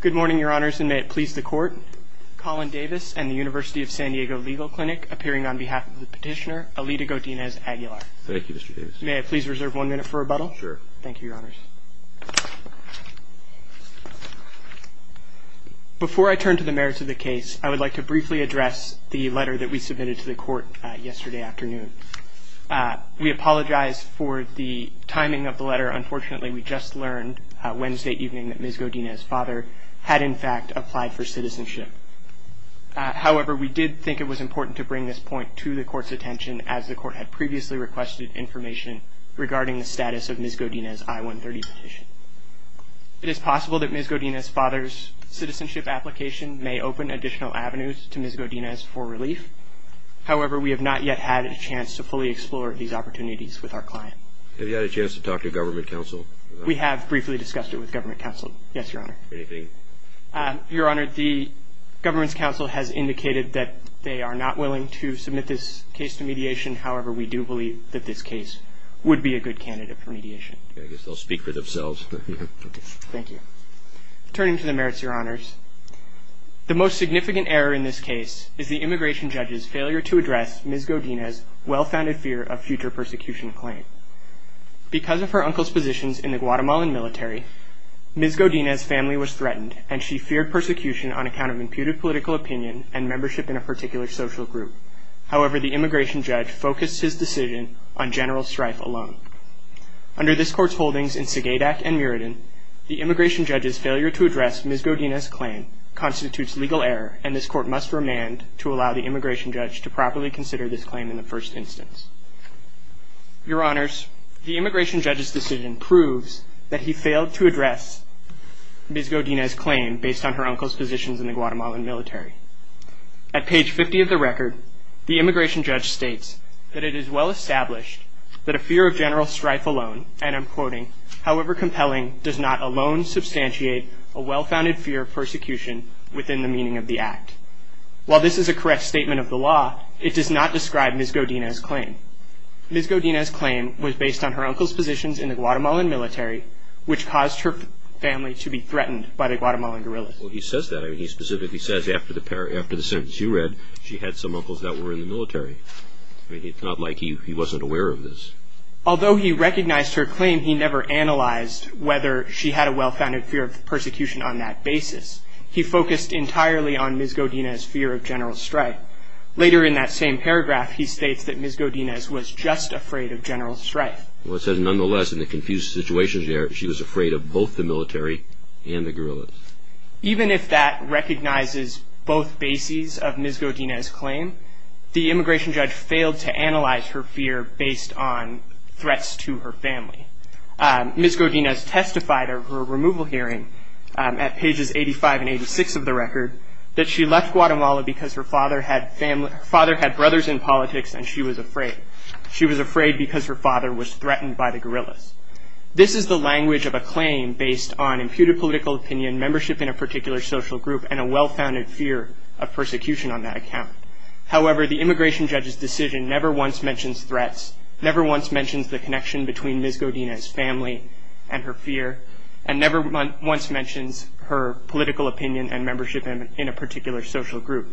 Good morning, your honors, and may it please the court. Colin Davis and the University of San Diego Legal Clinic, appearing on behalf of the petitioner, Alida Godinez Aguilar. Thank you, Mr. Davis. May I please reserve one minute for rebuttal? Sure. Thank you, your honors. Before I turn to the merits of the case, I would like to briefly address the letter that we submitted to the court yesterday afternoon. We apologize for the timing of the letter. Unfortunately, we just learned Wednesday evening that Ms. Godinez's father had, in fact, applied for citizenship. However, we did think it was important to bring this point to the court's attention, as the court had previously requested information regarding the status of Ms. Godinez's I-130 petition. It is possible that Ms. Godinez's father's citizenship application may open additional avenues to Ms. Godinez for relief. However, we have not yet had a chance to fully explore these opportunities with our client. Have you had a chance to talk to government counsel? We have briefly discussed it with government counsel. Yes, your honor. Anything? Your honor, the government's counsel has indicated that they are not willing to submit this case to mediation. However, we do believe that this case would be a good candidate for mediation. I guess they'll speak for themselves. Thank you. Turning to the merits, your honors, the most significant error in this case is the immigration judge's failure to address Ms. Godinez's well-founded fear of future persecution claim. Because of her uncle's positions in the Guatemalan military, Ms. Godinez's family was threatened, and she feared persecution on account of imputed political opinion and membership in a particular social group. However, the immigration judge focused his decision on General Strife alone. Under this court's holdings in Sagadak and Muradin, the immigration judge's failure to address Ms. Godinez's claim constitutes legal error, and this court must remand to allow the immigration judge to properly consider this claim in the first instance. Your honors, the immigration judge's decision proves that he failed to address Ms. Godinez's claim based on her uncle's positions in the Guatemalan military. At page 50 of the record, the immigration judge states that it is well-established that a fear of General Strife alone, and I'm quoting, however compelling, does not alone substantiate a well-founded fear of persecution within the meaning of the act. While this is a correct statement of the law, it does not describe Ms. Godinez's claim. Ms. Godinez's claim was based on her uncle's positions in the Guatemalan military, which caused her family to be threatened by the Guatemalan guerrillas. Well, he says that. He specifically says after the sentence you read, she had some uncles that were in the military. It's not like he wasn't aware of this. Although he recognized her claim, he never analyzed whether she had a well-founded fear of persecution on that basis. He focused entirely on Ms. Godinez's fear of General Strife. Later in that same paragraph, he states that Ms. Godinez was just afraid of General Strife. Well, it says, nonetheless, in the confused situation there, she was afraid of both the military and the guerrillas. Even if that recognizes both bases of Ms. Godinez's claim, the immigration judge failed to analyze her fear based on threats to her family. Ms. Godinez testified at her removal hearing at pages 85 and 86 of the record that she left Guatemala because her father had brothers in politics, and she was afraid. She was afraid because her father was threatened by the guerrillas. This is the language of a claim based on imputed political opinion, membership in a particular social group, and a well-founded fear of persecution on that account. However, the immigration judge's decision never once mentions threats, never once mentions the connection between Ms. Godinez's family and her fear, and never once mentions her political opinion and membership in a particular social group,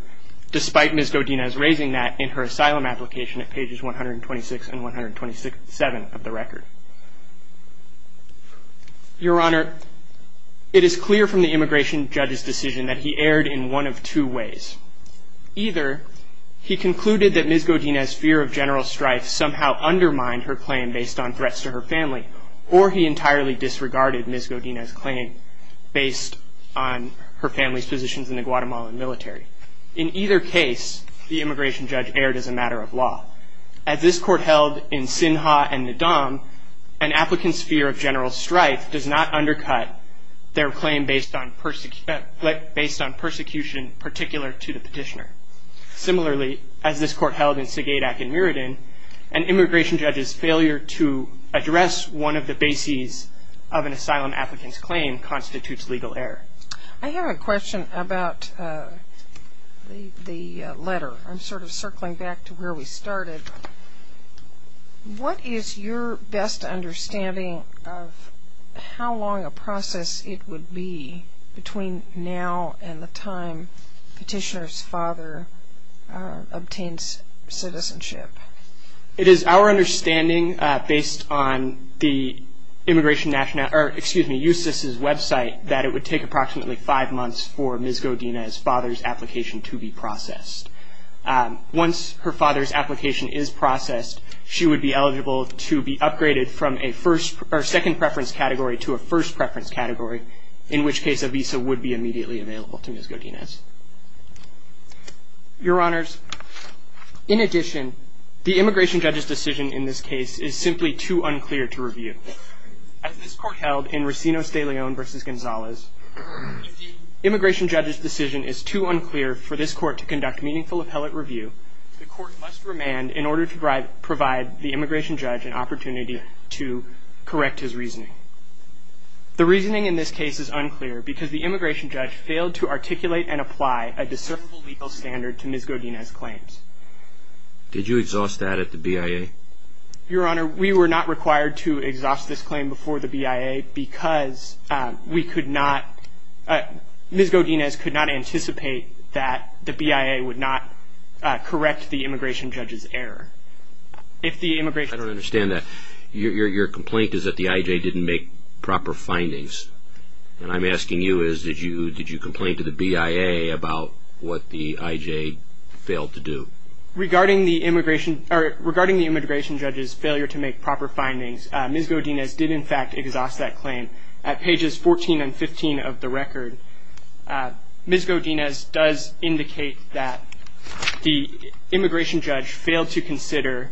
despite Ms. Godinez raising that in her asylum application at pages 126 and 127 of the record. Your Honor, it is clear from the immigration judge's decision that he erred in one of two ways. Either he concluded that Ms. Godinez's fear of General Strife somehow undermined her claim based on threats to her family, or he entirely disregarded Ms. Godinez's claim based on her family's position in the Guatemalan military. In either case, the immigration judge erred as a matter of law. As this court held in Sinha and Ndam, an applicant's fear of General Strife does not undercut their claim based on persecution particular to the petitioner. Similarly, as this court held in Sigaydak and Muradin, an immigration judge's failure to address one of the bases of an asylum applicant's claim constitutes legal error. I have a question about the letter. I'm sort of circling back to where we started. What is your best understanding of how long a process it would be between now and the time petitioner's father obtains citizenship? It is our understanding, based on the immigration national, or excuse me, USIS's website, that it would take approximately five months for Ms. Godinez's father's application to be processed. Once her father's application is processed, she would be eligible to be upgraded from a second preference category to a first preference category, in which case a visa would be immediately available to Ms. Godinez. Your Honors, in addition, the immigration judge's decision in this case is simply too unclear to review. As this court held in Recinos de Leon versus Gonzalez, immigration judge's decision is too unclear for this court to conduct meaningful appellate review. The court must remand in order to provide the immigration judge an opportunity to correct his reasoning. The reasoning in this case is unclear because the immigration judge failed to articulate and apply a deservable legal standard to Ms. Godinez's claims. Did you exhaust that at the BIA? Your Honor, we were not required to exhaust this claim before the BIA because Ms. Godinez could not anticipate that the BIA would not correct the immigration judge's error. If the immigration judge failed to do so. I don't understand that. Your complaint is that the IJ didn't make proper findings. And I'm asking you is, did you complain to the BIA about what the IJ failed to do? Regarding the immigration judge's failure to make proper findings, Ms. Godinez did in fact exhaust that claim. At pages 14 and 15 of the record, Ms. Godinez does indicate that the immigration judge failed to consider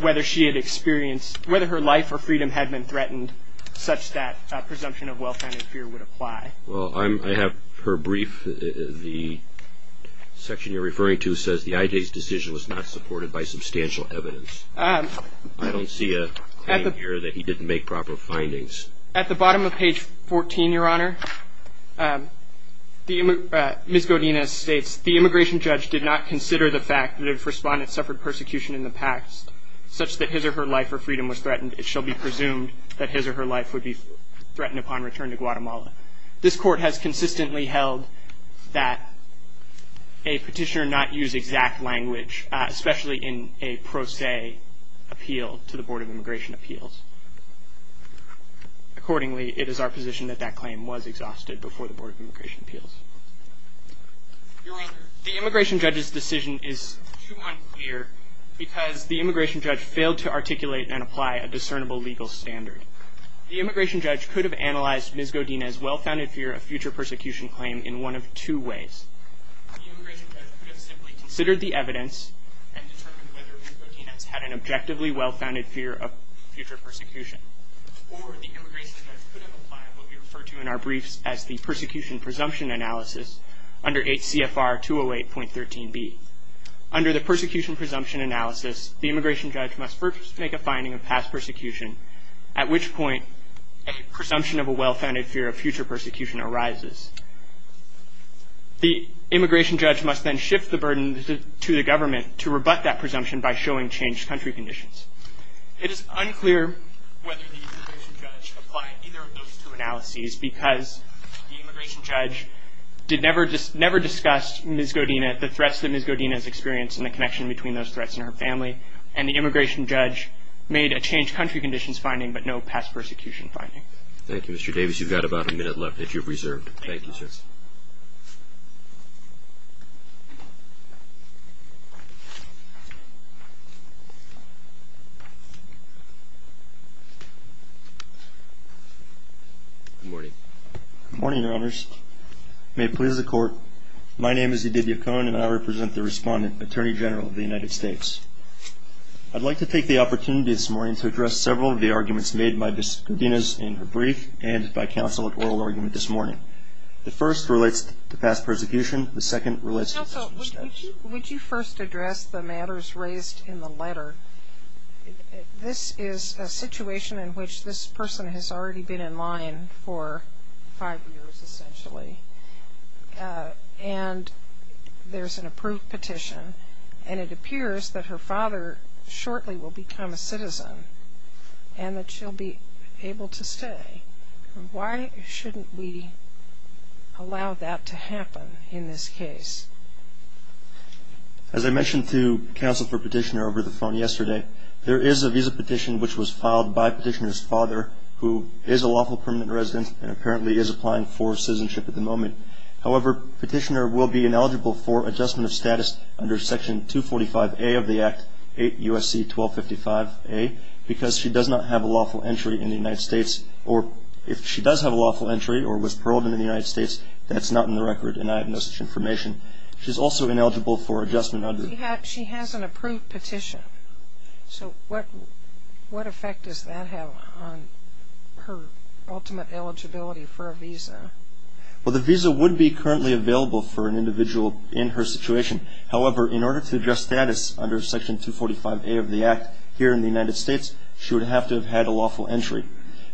whether she had experienced, whether her life or freedom had been threatened such that a presumption of well-founded fear would apply. Well, I have her brief. The section you're referring to says the IJ's decision was not supported by substantial evidence. I don't see a claim here that he didn't make proper findings. At the bottom of page 14, Your Honor, Ms. Godinez states, the immigration judge did not consider the fact that if respondents suffered persecution in the past such that his or her life or freedom was threatened, would be threatened upon return to Guatemala. This court has consistently held that a petitioner not use exact language, especially in a pro se appeal to the Board of Immigration Appeals. Accordingly, it is our position that that claim was exhausted before the Board of Immigration Appeals. Your Honor, the immigration judge's decision is too unclear because the immigration judge failed to articulate and apply a discernible legal standard. The immigration judge could have analyzed Ms. Godinez well-founded fear of future persecution claim in one of two ways. The immigration judge could have simply considered the evidence and determined whether Ms. Godinez had an objectively well-founded fear of future persecution. Or the immigration judge could have applied what we refer to in our briefs as the persecution presumption analysis under 8 CFR 208.13b. Under the persecution presumption analysis, the immigration judge must first make a finding of past persecution, at which point a presumption of a well-founded fear of future persecution arises. The immigration judge must then shift the burden to the government to rebut that presumption by showing changed country conditions. It is unclear whether the immigration judge applied either of those two analyses because the immigration judge did never discuss Ms. Godinez, the threats that Ms. Godinez experienced, and the connection between those threats and her family. And the immigration judge made a changed country conditions finding, but no past persecution finding. Thank you, Mr. Davis. You've got about a minute left if you're reserved. Thank you, sir. Good morning. Good morning, Your Honors. May it please the Court, my name is Edith Yacone, and I represent the respondent, Attorney General of the United States. I'd like to take the opportunity this morning to address several of the arguments made by Ms. Godinez in her brief, and by counsel at oral argument this morning. The first relates to past persecution, the second relates to future status. Would you first address the matters raised in the letter? This is a situation in which this person has already been in line for five years, essentially. And there's an approved petition, and it appears that her father shortly will become a citizen, and that she'll be able to stay. Why shouldn't we allow that to happen in this case? As I mentioned to counsel for petitioner over the phone yesterday, there is a visa petition which was filed by petitioner's father, who is a lawful permanent resident, and apparently is applying for citizenship at the moment. However, petitioner will be ineligible for adjustment of status under section 245A of the Act, USC 1255A, because she does not have a lawful entry in the United States. Or if she does have a lawful entry, or was paroled in the United States, that's not in the record, and I have no such information. She's also ineligible for adjustment under. She has an approved petition, so what effect does that have on her ultimate eligibility for a visa? Well, the visa would be currently available for an individual in her situation. However, in order to adjust status under section 245A of the Act here in the United States, she would have to have had a lawful entry.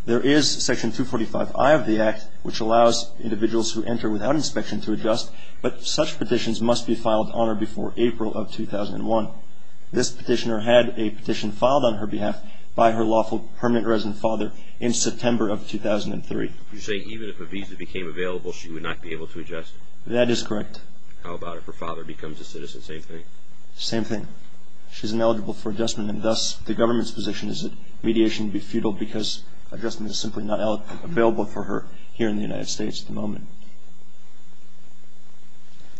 There is section 245I of the Act, which allows individuals who enter without inspection to adjust, but such petitions must be filed on or before April of 2001. This petitioner had a petition filed on her behalf by her lawful permanent resident father in September of 2003. You say even if a visa became available, she would not be able to adjust? That is correct. How about if her father becomes a citizen, same thing? Same thing. She's ineligible for adjustment, and thus, the government's position is that mediation would be futile, because adjustment is simply not available for her here in the United States at the moment.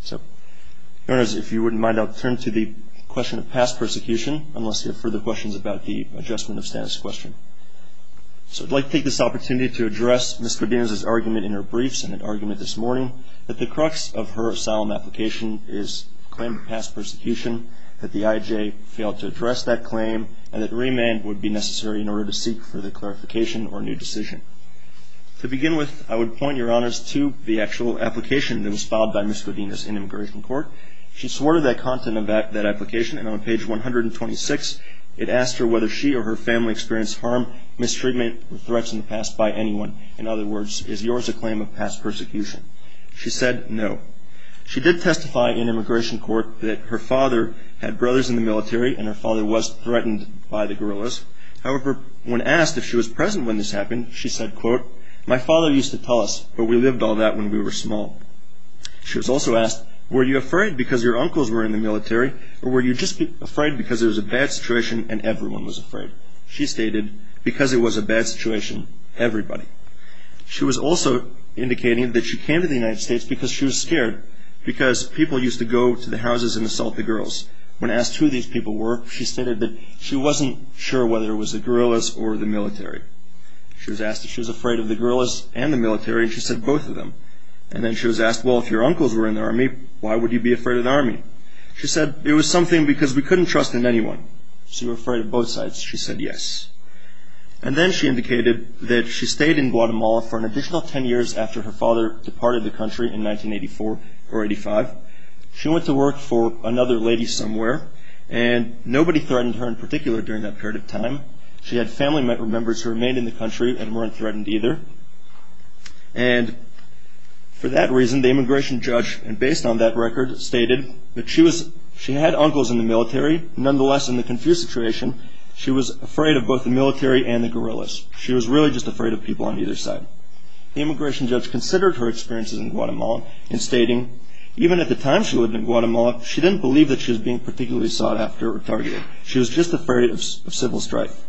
So if you wouldn't mind, I'll turn to the question of past persecution, unless you have further questions about the adjustment of status question. So I'd like to take this opportunity to address Ms. Godinez's argument in her briefs, and that argument this morning, that the crux of her asylum application is a claim of past persecution, that the IJ failed to address that claim, and that remand would be necessary in order to seek further clarification or a new decision. To begin with, I would point your honors to the actual application that was filed by Ms. Godinez in immigration court. She swore to that content of that application, and on page 126, it asked her whether she or her family experienced harm, mistreatment, or threats in the past by anyone. In other words, is yours a claim of past persecution? She said no. She did testify in immigration court that her father had brothers in the military, and her father was threatened by the guerrillas. However, when asked if she was present when this happened, she said, quote, my father used to tell us, but we lived all that when we were small. She was also asked, were you afraid because your uncles were in the military, or were you just afraid because it was a bad situation and everyone was afraid? She stated, because it was a bad situation, everybody. She was also indicating that she came to the United States because she was scared, because people used to go to the houses and assault the girls. When asked who these people were, she stated that she wasn't sure whether it was the guerrillas or the military. She was asked if she was afraid of the guerrillas and the military, and she said both of them. And then she was asked, well, if your uncles were in the army, why would you be afraid of the army? She said, it was something because we couldn't trust in anyone. She was afraid of both sides. She said yes. And then she indicated that she stayed in Guatemala for an additional 10 years after her father departed the country in 1984 or 85. She went to work for another lady somewhere, and nobody threatened her in particular during that period of time. She had family members who remained in the country and weren't threatened either. And for that reason, the immigration judge, and based on that record, stated that she had uncles in the military. Nonetheless, in the confused situation, she was afraid of both the military and the guerrillas. She was really just afraid of people on either side. The immigration judge considered her experiences in Guatemala in stating, even at the time she lived in Guatemala, she didn't believe that she was being particularly sought after or targeted. She was just afraid of civil strife.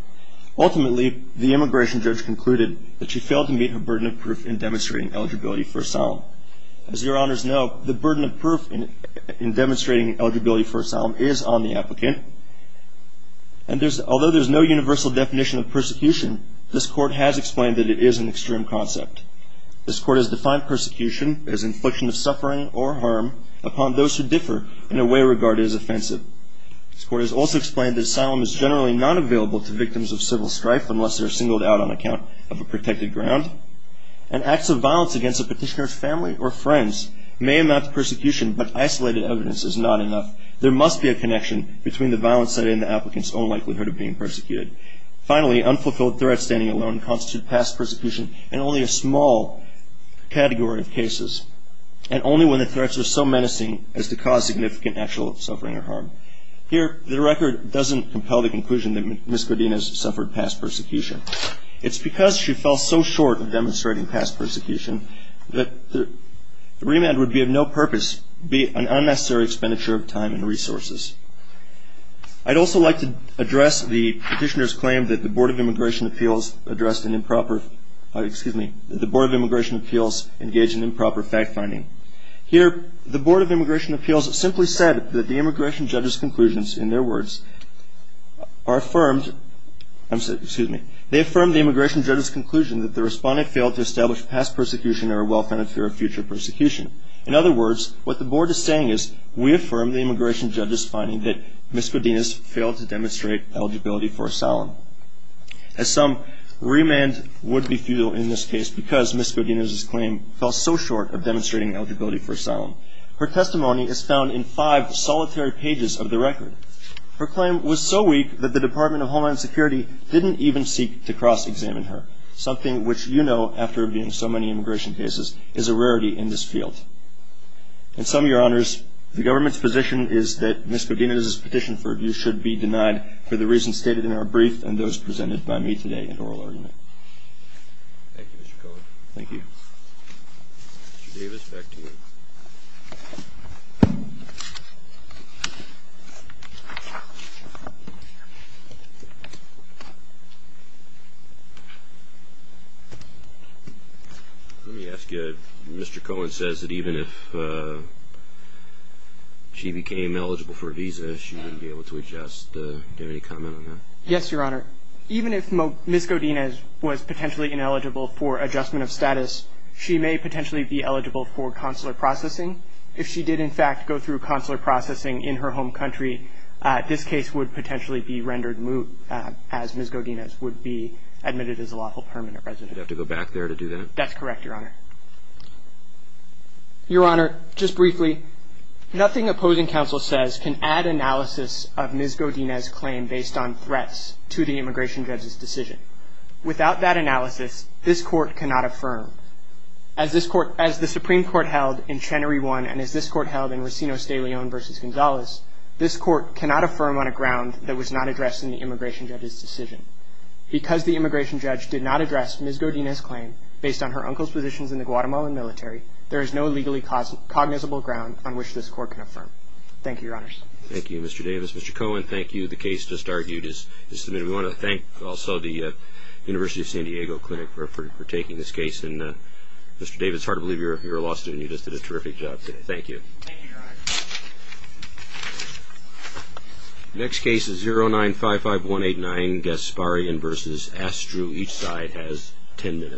Ultimately, the immigration judge concluded that she failed to meet her burden of proof in demonstrating eligibility for asylum. As your honors know, the burden of proof in demonstrating eligibility for asylum is on the applicant. And although there's no universal definition of persecution, this court has explained that it is an extreme concept. This court has defined persecution as infliction of suffering or harm upon those who differ in a way regarded as offensive. This court has also explained that asylum is generally not available to victims of civil strife unless they're singled out on account of a protected ground. And acts of violence against a petitioner's family or friends may amount to persecution, but isolated evidence is not enough. There must be a connection between the violence cited and the applicant's own likelihood of being persecuted. Finally, unfulfilled threats standing alone constitute past persecution in only a small category of cases, and only when the threats are so menacing as to cause significant actual suffering or harm. Here, the record doesn't compel the conclusion It's because she fell so short of demonstrating past persecution that the remand would be of no purpose, be it an unnecessary expenditure of time and resources. I'd also like to address the petitioner's claim that the Board of Immigration Appeals engaged in improper fact-finding. Here, the Board of Immigration Appeals simply said that the immigration judge's conclusions, They affirm the immigration judge's conclusion that the respondent failed to establish past persecution or a well-founded fear of future persecution. In other words, what the board is saying is we affirm the immigration judge's finding that Ms. Godinez failed to demonstrate eligibility for asylum. As some, remand would be futile in this case because Ms. Godinez's claim fell so short of demonstrating eligibility for asylum. Her testimony is found in five solitary pages of the record. Her claim was so weak that the Department of Homeland Security didn't even seek to cross-examine her, something which you know, after being in so many immigration cases, is a rarity in this field. In sum, Your Honors, the government's position is that Ms. Godinez's petition for review should be denied for the reasons stated in our brief and those presented by me today in oral argument. Thank you, Mr. Cohen. Thank you. Mr. Davis, back to you. Let me ask you, Mr. Cohen says that even if she became eligible for a visa, she wouldn't be able to adjust. Do you have any comment on that? Yes, Your Honor. Even if Ms. Godinez was potentially ineligible for adjustment of status, she may potentially be eligible for consular processing. If she did, in fact, go through consular processing in her home country, this case would potentially be rendered moot, as Ms. Godinez would be admitted as a lawful permanent resident. You'd have to go back there to do that? That's correct, Your Honor. Your Honor, just briefly, nothing opposing counsel says can add analysis of Ms. Godinez's claim based on threats to the immigration judge's decision. Without that analysis, this court cannot affirm. As the Supreme Court held in Chenery 1 and as this court held in Racino-Stayleone versus on a ground that was not addressed in the immigration judge's decision. Because the immigration judge did not address Ms. Godinez's claim based on her uncle's positions in the Guatemalan military, there is no legally cognizable ground on which this court can affirm. Thank you, Your Honors. Thank you, Mr. Davis. Mr. Cohen, thank you. The case just argued is submitted. We want to thank also the University of San Diego Clinic for taking this case. And Mr. Davis, it's hard to believe you're a law student. You just did a terrific job today. Thank you. Thank you, Your Honor. Next case is 0955189, Gasparian versus Astrew. Each side has 10 minutes.